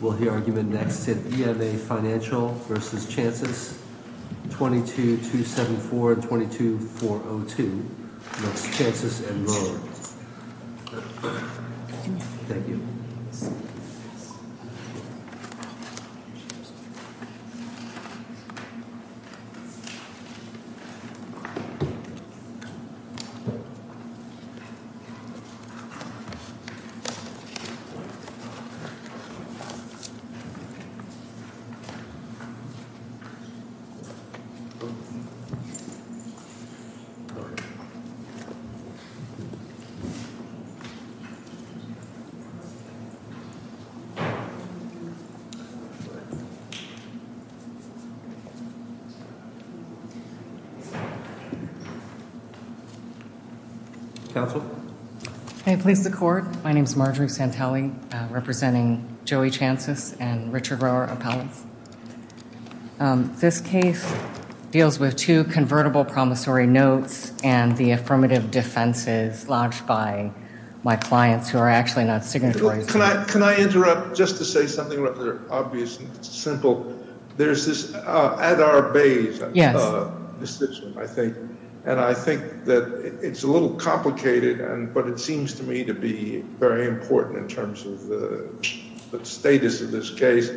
Will the argument next sit EMA Financial v. Chances, 22274 and 22402 v. Chances & Lowe? Thank you. Thank you. Thank you. Thank you. Thank you. Thank you. This case deals with two convertible promissory notes and the affirmative defenses lodged by my clients who are actually not signatories. Can I interrupt just to say something rather obvious and simple? There's this Adair Bayes decision, I think, and I think that it's a little complicated, but it seems to me to be very important in terms of the status of this case.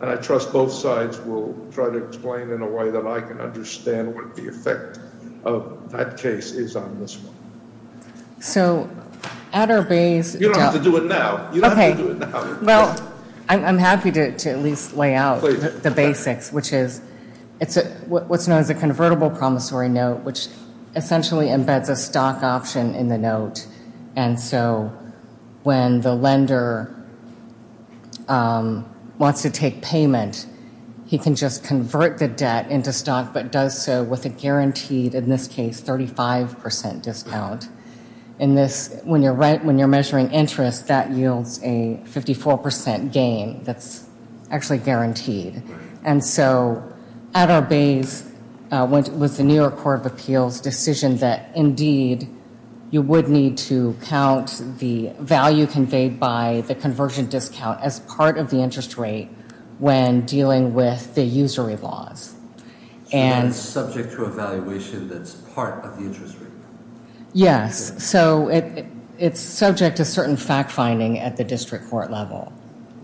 And I trust both sides will try to explain in a way that I can understand what the effect of that case is on this one. So Adair Bayes... You don't have to do it now. Okay. You don't have to do it now. Well, I'm happy to at least lay out the basics, which is what's known as a convertible promissory note, which essentially embeds a stock option in the note. And so when the lender wants to take payment, he can just convert the debt into stock but does so with a guaranteed, in this case, 35% discount. When you're measuring interest, that yields a 54% gain that's actually guaranteed. And so Adair Bayes with the New York Court of Appeals decision that, indeed, you would need to count the value conveyed by the conversion discount as part of the interest rate when dealing with the usury laws. And subject to a valuation that's part of the interest rate. Yes. So it's subject to certain fact-finding at the district court level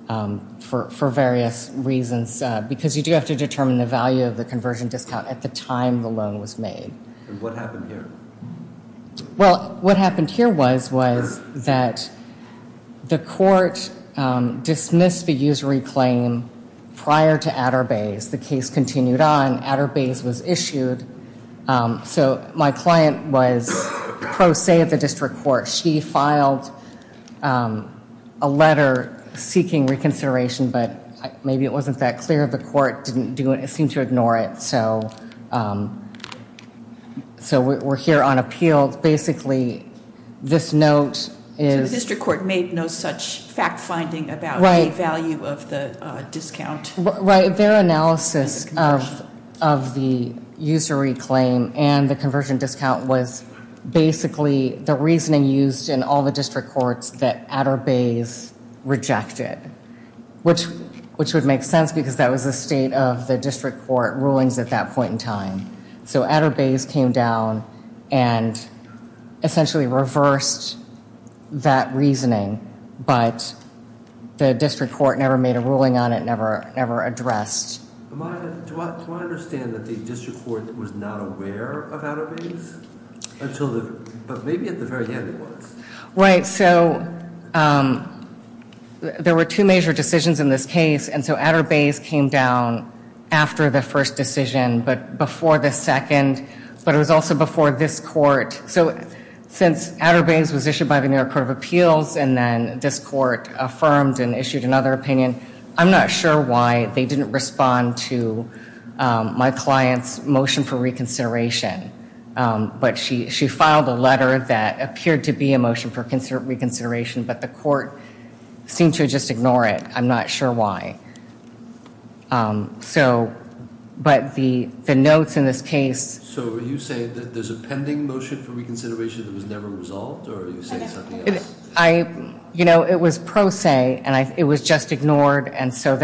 for various reasons because you do have to determine the value of the conversion discount at the time the loan was made. And what happened here? Well, what happened here was that the court dismissed the usury claim prior to Adair Bayes. The case continued on. Adair Bayes was issued. So my client was pro se at the district court. She filed a letter seeking reconsideration, but maybe it wasn't that clear. The court didn't do it. It seemed to ignore it. So we're here on appeal. Basically, this note is. So the district court made no such fact-finding about the value of the discount. Right. Their analysis of the usury claim and the conversion discount was basically the reasoning used in all the district courts that Adair Bayes rejected, which would make sense because that was the state of the district court rulings at that point in time. So Adair Bayes came down and essentially reversed that reasoning. But the district court never made a ruling on it, never addressed. Do I understand that the district court was not aware of Adair Bayes? But maybe at the very end it was. Right. So there were two major decisions in this case. And so Adair Bayes came down after the first decision, but before the second. But it was also before this court. So since Adair Bayes was issued by the New York Court of Appeals and then this court affirmed and issued another opinion, I'm not sure why they didn't respond to my client's motion for reconsideration. But she filed a letter that appeared to be a motion for reconsideration, but the court seemed to just ignore it. I'm not sure why. But the notes in this case. So are you saying that there's a pending motion for reconsideration that was never resolved? Or are you saying something else? It was pro se, and it was just ignored. And so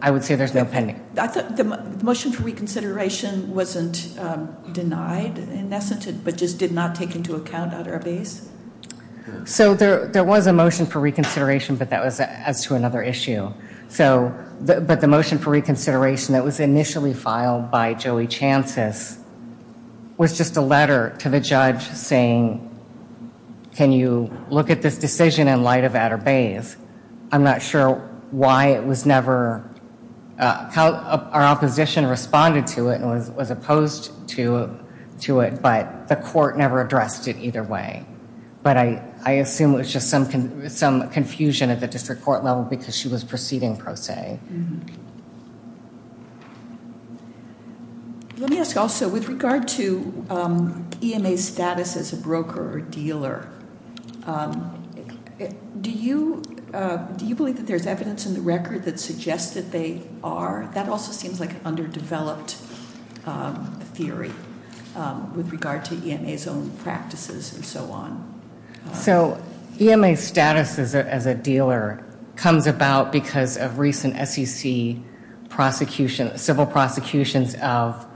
I would say there's no pending. The motion for reconsideration wasn't denied in essence, but just did not take into account Adair Bayes? So there was a motion for reconsideration, but that was as to another issue. But the motion for reconsideration that was initially filed by Joey Chances was just a letter to the judge saying, can you look at this decision in light of Adair Bayes? I'm not sure why it was never. Our opposition responded to it and was opposed to it, but the court never addressed it either way. But I assume it was just some confusion at the district court level because she was proceeding pro se. Let me ask also, with regard to EMA's status as a broker or dealer, do you believe that there's evidence in the record that suggests that they are? That also seems like an underdeveloped theory with regard to EMA's own practices and so on. So EMA's status as a dealer comes about because of recent SEC prosecution, civil prosecutions of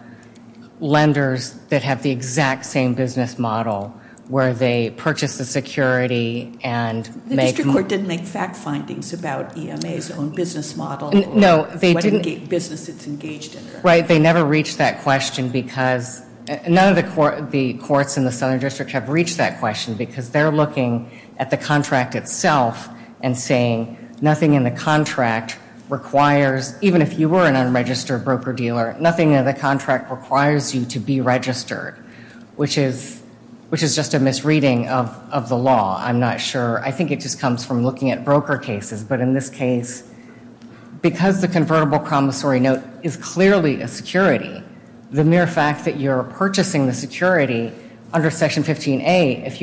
lenders that have the exact same business model where they purchase the security and make- The district court didn't make fact findings about EMA's own business model? No, they didn't. What business it's engaged in. Right, they never reached that question because none of the courts in the Southern District have reached that question because they're looking at the contract itself and saying nothing in the contract requires, even if you were an unregistered broker-dealer, nothing in the contract requires you to be registered, which is just a misreading of the law. I'm not sure. I think it just comes from looking at broker cases. But in this case, because the convertible promissory note is clearly a security, the mere fact that you're purchasing the security under Section 15A, if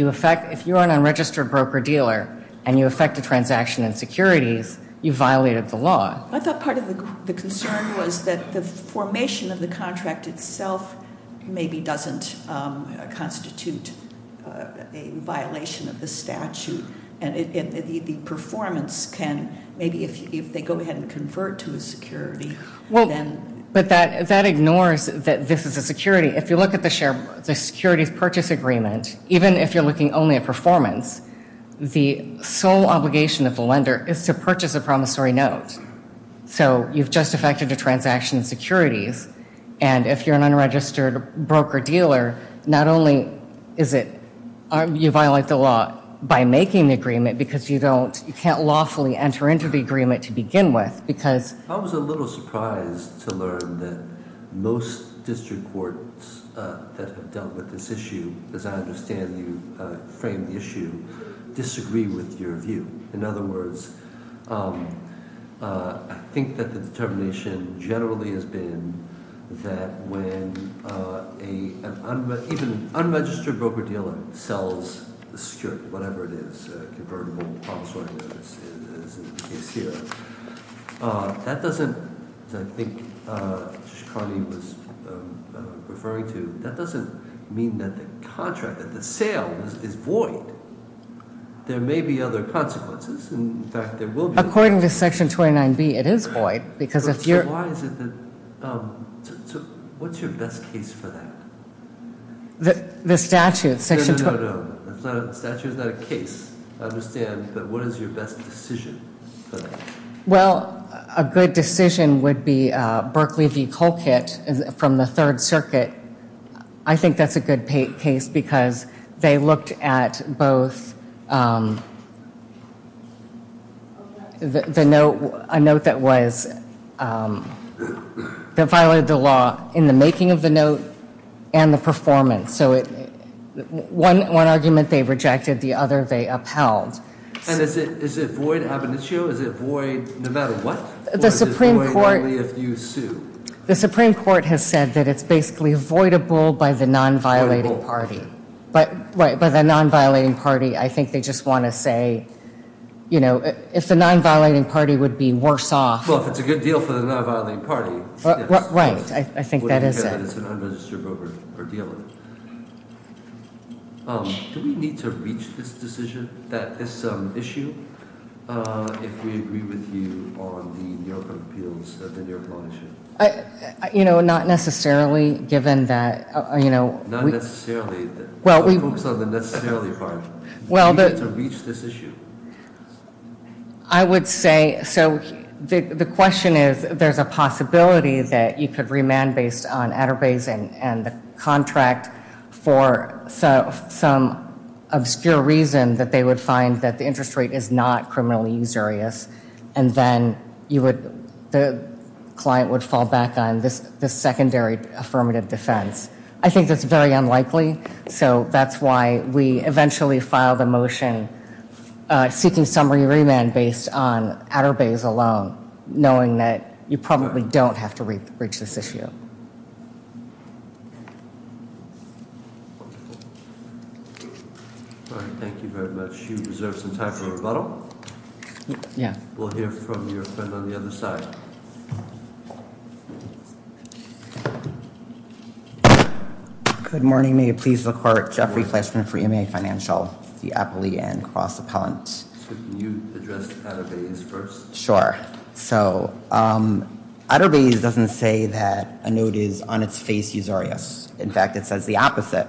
you're an unregistered broker-dealer and you effect a transaction in securities, you violated the law. I thought part of the concern was that the formation of the contract itself maybe doesn't constitute a violation of the statute and the performance can, maybe if they go ahead and convert to a security, then. But that ignores that this is a security. If you look at the securities purchase agreement, even if you're looking only at performance, the sole obligation of the lender is to purchase a promissory note. So you've just effected a transaction in securities, and if you're an unregistered broker-dealer, not only is it you violate the law by making the agreement, because you can't lawfully enter into the agreement to begin with. I was a little surprised to learn that most district courts that have dealt with this issue, as I understand you framed the issue, disagree with your view. In other words, I think that the determination generally has been that when even an unregistered broker-dealer sells the security, whatever it is, a convertible promissory note, as in the case here, that doesn't, as I think Mr. Carney was referring to, that doesn't mean that the contract, that the sale is void. There may be other consequences. In fact, there will be. According to Section 29B, it is void, because if you're Why is it that, what's your best case for that? The statute, Section 29 No, no, no, no. The statute is not a case, I understand. But what is your best decision for that? Well, a good decision would be Berkley v. Colquitt from the Third Circuit. I think that's a good case, because they looked at both the note, a note that was, that violated the law in the making of the note and the performance. So one argument they rejected, the other they upheld. And is it void ab initio? Is it void no matter what? Or is it void only if you sue? The Supreme Court has said that it's basically avoidable by the non-violating party. But, right, by the non-violating party, I think they just want to say, you know, if the non-violating party would be worse off. Well, if it's a good deal for the non-violating party, yes. Right, I think that is it. It's a non-registered broker for dealing. Do we need to reach this decision, this issue, if we agree with you on the New York appeals, the New York law issue? You know, not necessarily, given that, you know. Not necessarily. Well, we. Focus on the necessarily part. Well, the. Do we need to reach this issue? I would say, so the question is, there's a possibility that you could remand based on And then you would, the client would fall back on this secondary affirmative defense. I think that's very unlikely. So that's why we eventually filed a motion seeking summary remand based on Atterbay's alone, knowing that you probably don't have to reach this issue. Thank you very much. You deserve some time for rebuttal. Yeah. We'll hear from your friend on the other side. Good morning. May it please the court. Jeffrey Fletchman for EMA Financial, the Appalachian Cross Appellant. Can you address Atterbay's first? Sure. So, Atterbay's doesn't say that a note is on its face usurious. In fact, it says the opposite.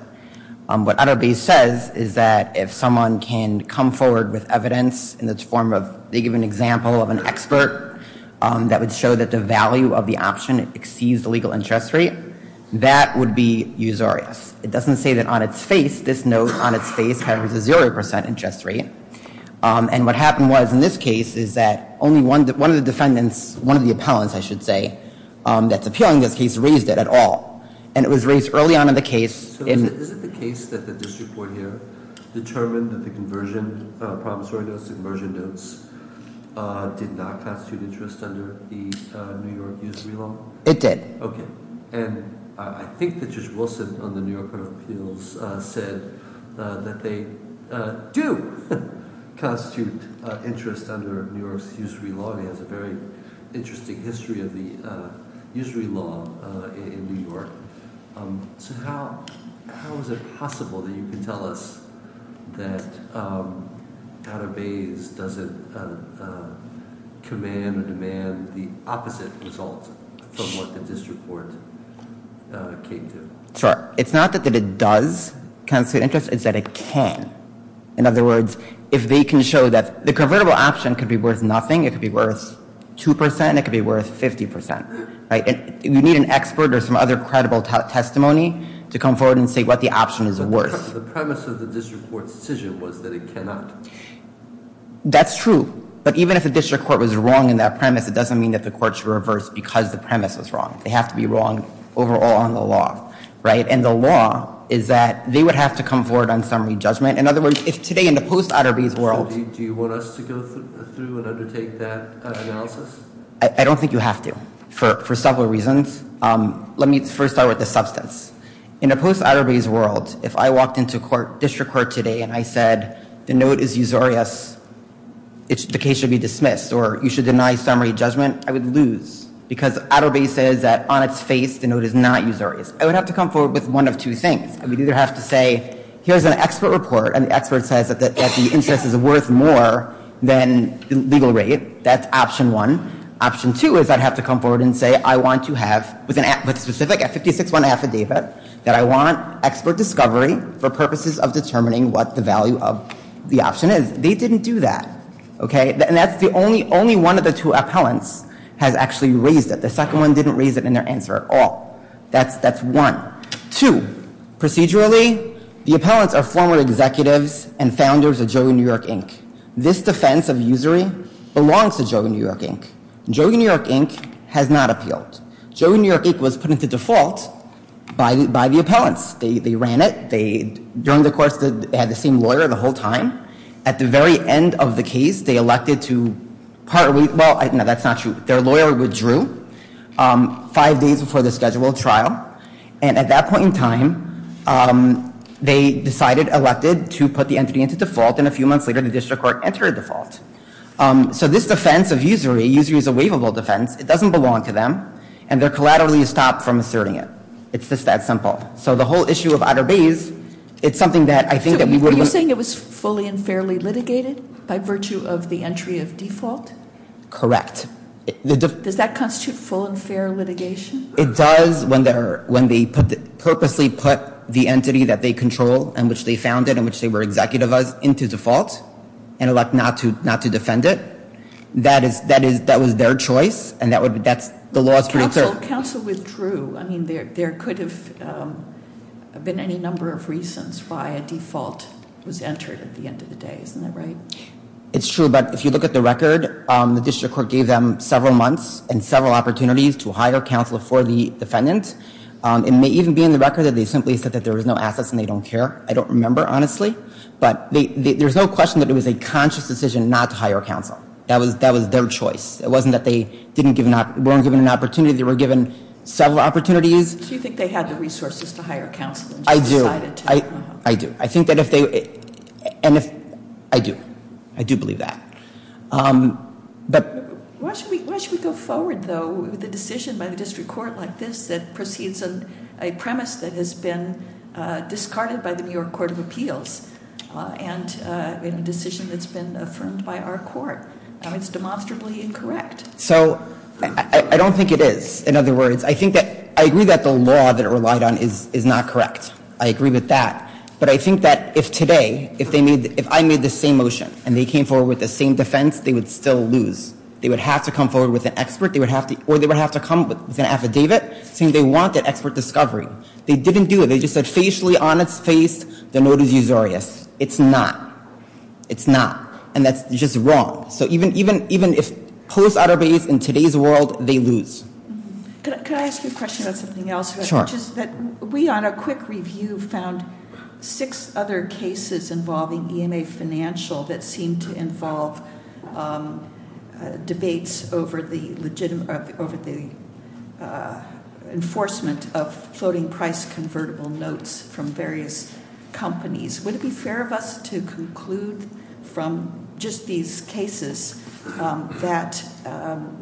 What Atterbay's says is that if someone can come forward with evidence in the form of, they give an example of an expert that would show that the value of the option exceeds the legal interest rate, that would be usurious. It doesn't say that on its face, this note on its face has a 0% interest rate. And what happened was, in this case, is that only one of the defendants, one of the appellants, I should say, that's appealing this case raised it at all. And it was raised early on in the case. So is it the case that the district court here determined that the conversion promissory notes, the conversion notes, did not constitute interest under the New York usury law? It did. Okay. And I think that Judge Wilson on the New York Court of Appeals said that they do constitute interest under New York's usury law. And the county has a very interesting history of the usury law in New York. So how is it possible that you can tell us that Atterbay's doesn't command or demand the opposite result from what the district court came to? Sure. It's not that it does constitute interest. It's that it can. In other words, if they can show that the convertible option could be worth nothing, it could be worth 2%, it could be worth 50%. You need an expert or some other credible testimony to come forward and say what the option is worth. The premise of the district court's decision was that it cannot. That's true. But even if the district court was wrong in that premise, it doesn't mean that the court should reverse because the premise was wrong. They have to be wrong overall on the law. And the law is that they would have to come forward on summary judgment. In other words, if today in the post-Atterbay's world- So do you want us to go through and undertake that analysis? I don't think you have to for several reasons. Let me first start with the substance. In a post-Atterbay's world, if I walked into district court today and I said the note is usurious, the case should be dismissed or you should deny summary judgment, I would lose. Because Atterbay says that on its face the note is not usurious. I would have to come forward with one of two things. I would either have to say here's an expert report and the expert says that the interest is worth more than the legal rate. That's option one. Option two is I'd have to come forward and say I want to have, with a specific 56-1 affidavit, that I want expert discovery for purposes of determining what the value of the option is. They didn't do that. Okay? And that's the only one of the two appellants has actually raised it. The second one didn't raise it in their answer at all. That's one. Two, procedurally, the appellants are former executives and founders of Joe New York Inc. This defense of usury belongs to Joe New York Inc. Joe New York Inc. has not appealed. Joe New York Inc. was put into default by the appellants. They ran it. They, during the course, had the same lawyer the whole time. At the very end of the case, they elected to, well, no, that's not true. Their lawyer withdrew five days before the scheduled trial. And at that point in time, they decided, elected to put the entity into default. And a few months later, the district court entered a default. So this defense of usury, usury is a waivable defense. It doesn't belong to them. And they're collaterally stopped from asserting it. It's just that simple. So the whole issue of outer bays, it's something that I think that we would. Are you saying it was fully and fairly litigated by virtue of the entry of default? Correct. Does that constitute full and fair litigation? It does when they purposely put the entity that they control and which they founded and which they were executive of into default and elect not to defend it. That was their choice, and that's the law. Counsel withdrew. I mean, there could have been any number of reasons why a default was entered at the end of the day. Isn't that right? It's true. But if you look at the record, the district court gave them several months and several opportunities to hire counsel for the defendant. It may even be in the record that they simply said that there was no assets and they don't care. I don't remember, honestly. But there's no question that it was a conscious decision not to hire counsel. That was their choice. It wasn't that they weren't given an opportunity. They were given several opportunities. Do you think they had the resources to hire counsel and just decided to? I do. I do. I think that if they – and if – I do. I do believe that. Why should we go forward, though, with a decision by the district court like this that proceeds on a premise that has been discarded by the New York Court of Appeals and a decision that's been affirmed by our court? It's demonstrably incorrect. So I don't think it is. In other words, I think that – I agree that the law that it relied on is not correct. I agree with that. But I think that if today, if they made – if I made the same motion and they came forward with the same defense, they would still lose. They would have to come forward with an expert. They would have to – or they would have to come with an affidavit saying they want that expert discovery. They didn't do it. They just said facially, on its face, the note is usurious. It's not. It's not. And that's just wrong. So even if police authorities in today's world, they lose. Can I ask you a question about something else? Sure. Which is that we, on a quick review, found six other cases involving EMA Financial that seemed to involve debates over the enforcement of floating price convertible notes from various companies. Would it be fair of us to conclude from just these cases that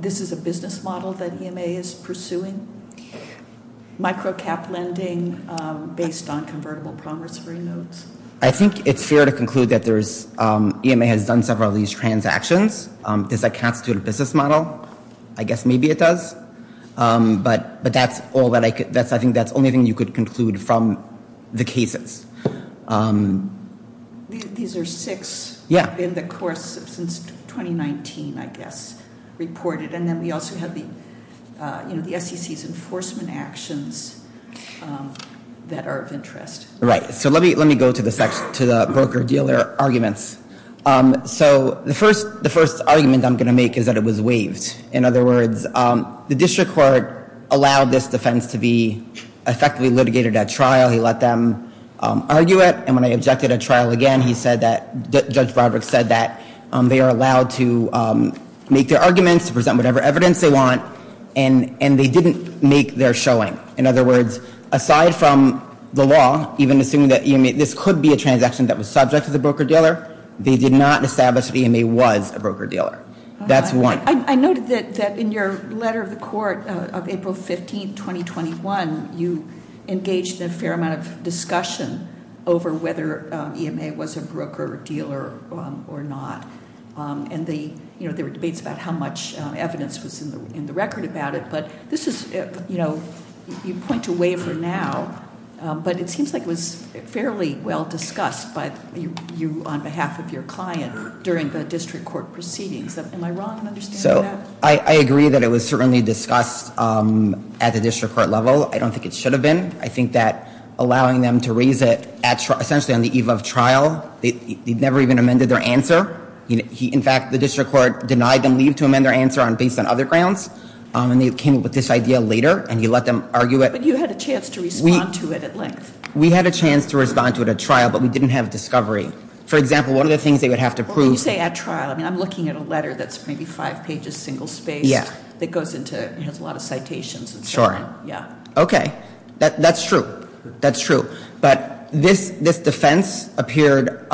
this is a business model that EMA is pursuing, micro-cap lending based on convertible progress-free notes? I think it's fair to conclude that there's – EMA has done several of these transactions. Does that constitute a business model? I guess maybe it does. But that's all that I – I think that's the only thing you could conclude from the cases. These are six in the course of – since 2019, I guess, reported. And then we also have the SEC's enforcement actions that are of interest. Right. So let me go to the broker-dealer arguments. So the first argument I'm going to make is that it was waived. In other words, the district court allowed this defense to be effectively litigated at trial. He let them argue it. And when they objected at trial again, he said that – Judge Broderick said that they are allowed to make their arguments, to present whatever evidence they want, and they didn't make their showing. In other words, aside from the law, even assuming that this could be a transaction that was subject to the broker-dealer, they did not establish that EMA was a broker-dealer. That's one. I noted that in your letter of the court of April 15, 2021, you engaged in a fair amount of discussion over whether EMA was a broker-dealer or not. And they – you know, there were debates about how much evidence was in the record about it. But this is – you know, you point to waiver now, but it seems like it was fairly well discussed by you on behalf of your client during the district court proceedings. Am I wrong in understanding that? So I agree that it was certainly discussed at the district court level. I don't think it should have been. I think that allowing them to raise it at – essentially on the eve of trial, they never even amended their answer. In fact, the district court denied them leave to amend their answer based on other grounds. And they came up with this idea later, and he let them argue it. But you had a chance to respond to it at length. We had a chance to respond to it at trial, but we didn't have discovery. For example, one of the things they would have to prove – When you say at trial, I mean, I'm looking at a letter that's maybe five pages, single-spaced. Yeah. That goes into – has a lot of citations and so on. Sure. Yeah. Okay. That's true. That's true. But this defense appeared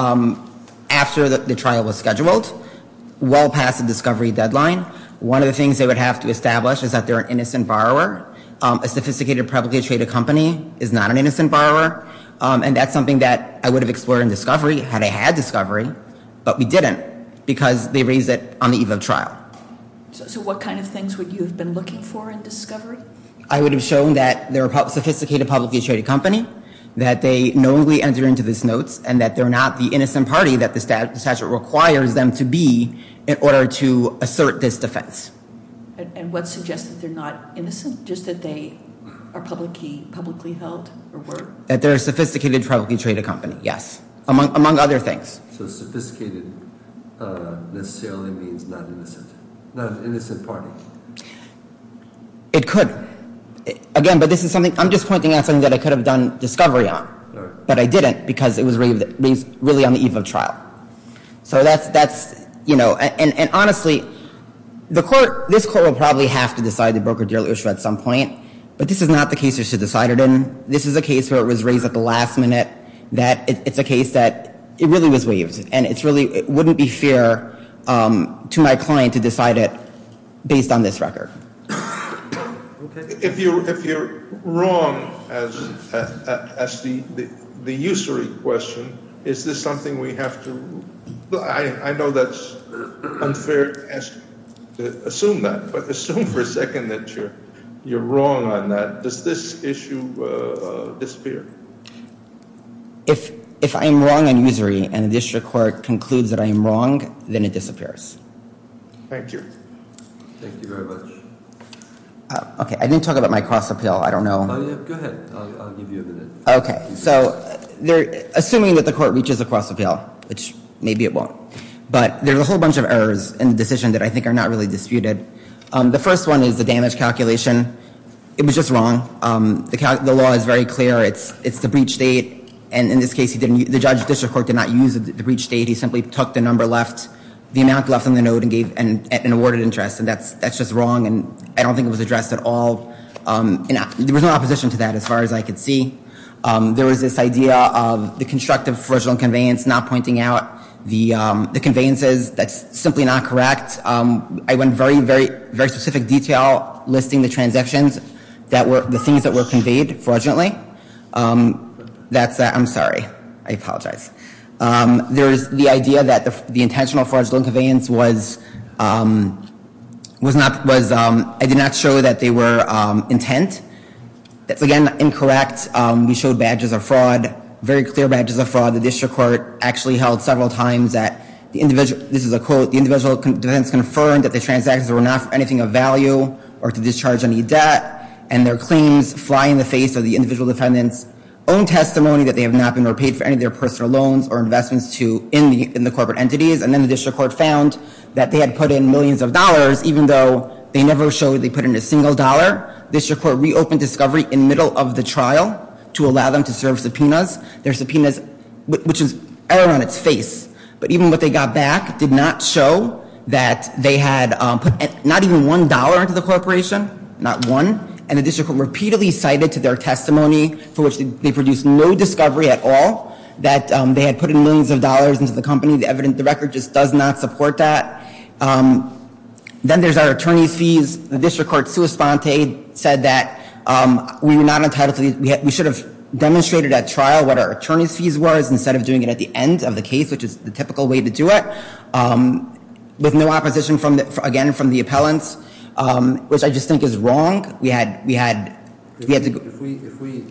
after the trial was scheduled, well past the discovery deadline. One of the things they would have to establish is that they're an innocent borrower. A sophisticated publicly-traded company is not an innocent borrower. And that's something that I would have explored in discovery had I had discovery. But we didn't because they raised it on the eve of trial. So what kind of things would you have been looking for in discovery? I would have shown that they're a sophisticated publicly-traded company, that they knowingly entered into this notes, and that they're not the innocent party that the statute requires them to be in order to assert this defense. And what suggests that they're not innocent, just that they are publicly held or were? That they're a sophisticated publicly-traded company. Yes. Among other things. So sophisticated necessarily means not innocent. Not an innocent party. It could. Again, but this is something – I'm just pointing out something that I could have done discovery on. But I didn't because it was raised really on the eve of trial. So that's, you know – and honestly, the court – this court will probably have to decide the broker-dealer issue at some point. But this is not the case you should decide it in. This is a case where it was raised at the last minute that it's a case that it really was waived. And it's really – it wouldn't be fair to my client to decide it based on this record. If you're wrong as to the usury question, is this something we have to – I know that's unfair to assume that. But assume for a second that you're wrong on that. Does this issue disappear? If I'm wrong on usury and the district court concludes that I am wrong, then it disappears. Thank you. Thank you very much. Okay, I didn't talk about my cross-appeal. I don't know. Go ahead. I'll give you a minute. Okay. So assuming that the court reaches a cross-appeal, which maybe it won't. But there's a whole bunch of errors in the decision that I think are not really disputed. The first one is the damage calculation. It was just wrong. The law is very clear. It's the breach date. And in this case, the judge of the district court did not use the breach date. He simply took the number left – the amount left on the note and awarded interest. And that's just wrong. And I don't think it was addressed at all. There was no opposition to that as far as I could see. There was this idea of the constructive fraudulent conveyance not pointing out the conveyances. That's simply not correct. I went very, very, very specific detail listing the transactions that were – the things that were conveyed fraudulently. That's – I'm sorry. I apologize. There's the idea that the intentional fraudulent conveyance was – was not – was – I did not show that they were intent. That's, again, incorrect. The district court actually held several times that the individual – this is a quote – the individual defendants confirmed that the transactions were not for anything of value or to discharge any debt, and their claims fly in the face of the individual defendants' own testimony that they have not been repaid for any of their personal loans or investments to – in the corporate entities. And then the district court found that they had put in millions of dollars, even though they never showed they put in a single dollar. The district court reopened discovery in the middle of the trial to allow them to serve subpoenas. Their subpoenas, which is error on its face, but even what they got back did not show that they had put not even one dollar into the corporation, not one, and the district court repeatedly cited to their testimony for which they produced no discovery at all that they had put in millions of dollars into the company. The record just does not support that. Then there's our attorney's fees. The district court, sua sponte, said that we were not entitled to these – we should have demonstrated at trial what our attorney's fees were instead of doing it at the end of the case, which is the typical way to do it, with no opposition, again, from the appellants, which I just think is wrong. We had – we had to – If we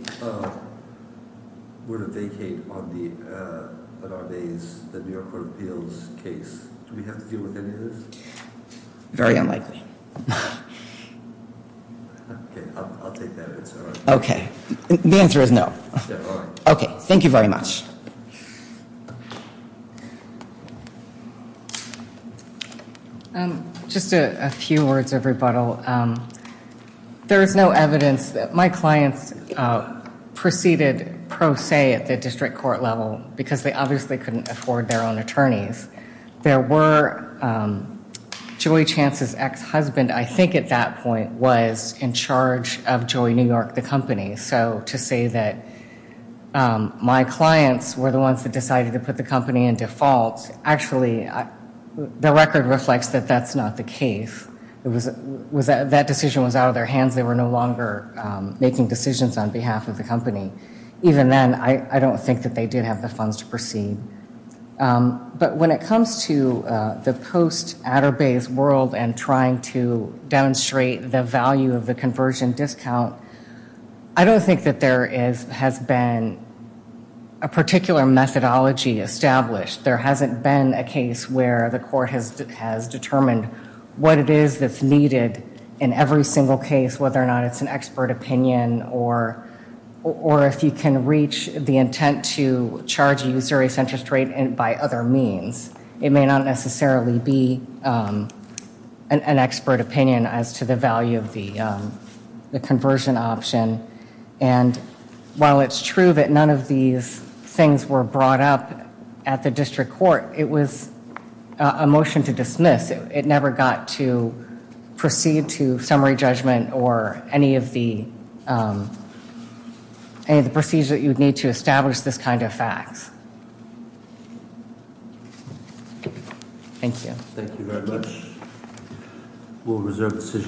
were to vacate on the – on our days, the New York Court of Appeals case, do we have to deal with any of this? Very unlikely. Okay. I'll take that answer. Okay. The answer is no. Okay. All right. Okay. Thank you very much. Just a few words of rebuttal. There is no evidence that my clients preceded pro se at the district court level because they obviously couldn't afford their own attorneys. There were – Joey Chance's ex-husband, I think at that point, was in charge of Joey New York, the company. So to say that my clients were the ones that decided to put the company in default, actually, the record reflects that that's not the case. That decision was out of their hands. Even then, I don't think that they did have the funds to proceed. But when it comes to the post-Atterbay's world and trying to demonstrate the value of the conversion discount, I don't think that there has been a particular methodology established. There hasn't been a case where the court has determined what it is that's needed in every single case, whether or not it's an expert opinion or if you can reach the intent to charge a usurious interest rate by other means. It may not necessarily be an expert opinion as to the value of the conversion option. And while it's true that none of these things were brought up at the district court, it was a motion to dismiss. It never got to proceed to summary judgment or any of the procedures that you would need to establish this kind of facts. Thank you. Thank you very much. We'll reserve the decision.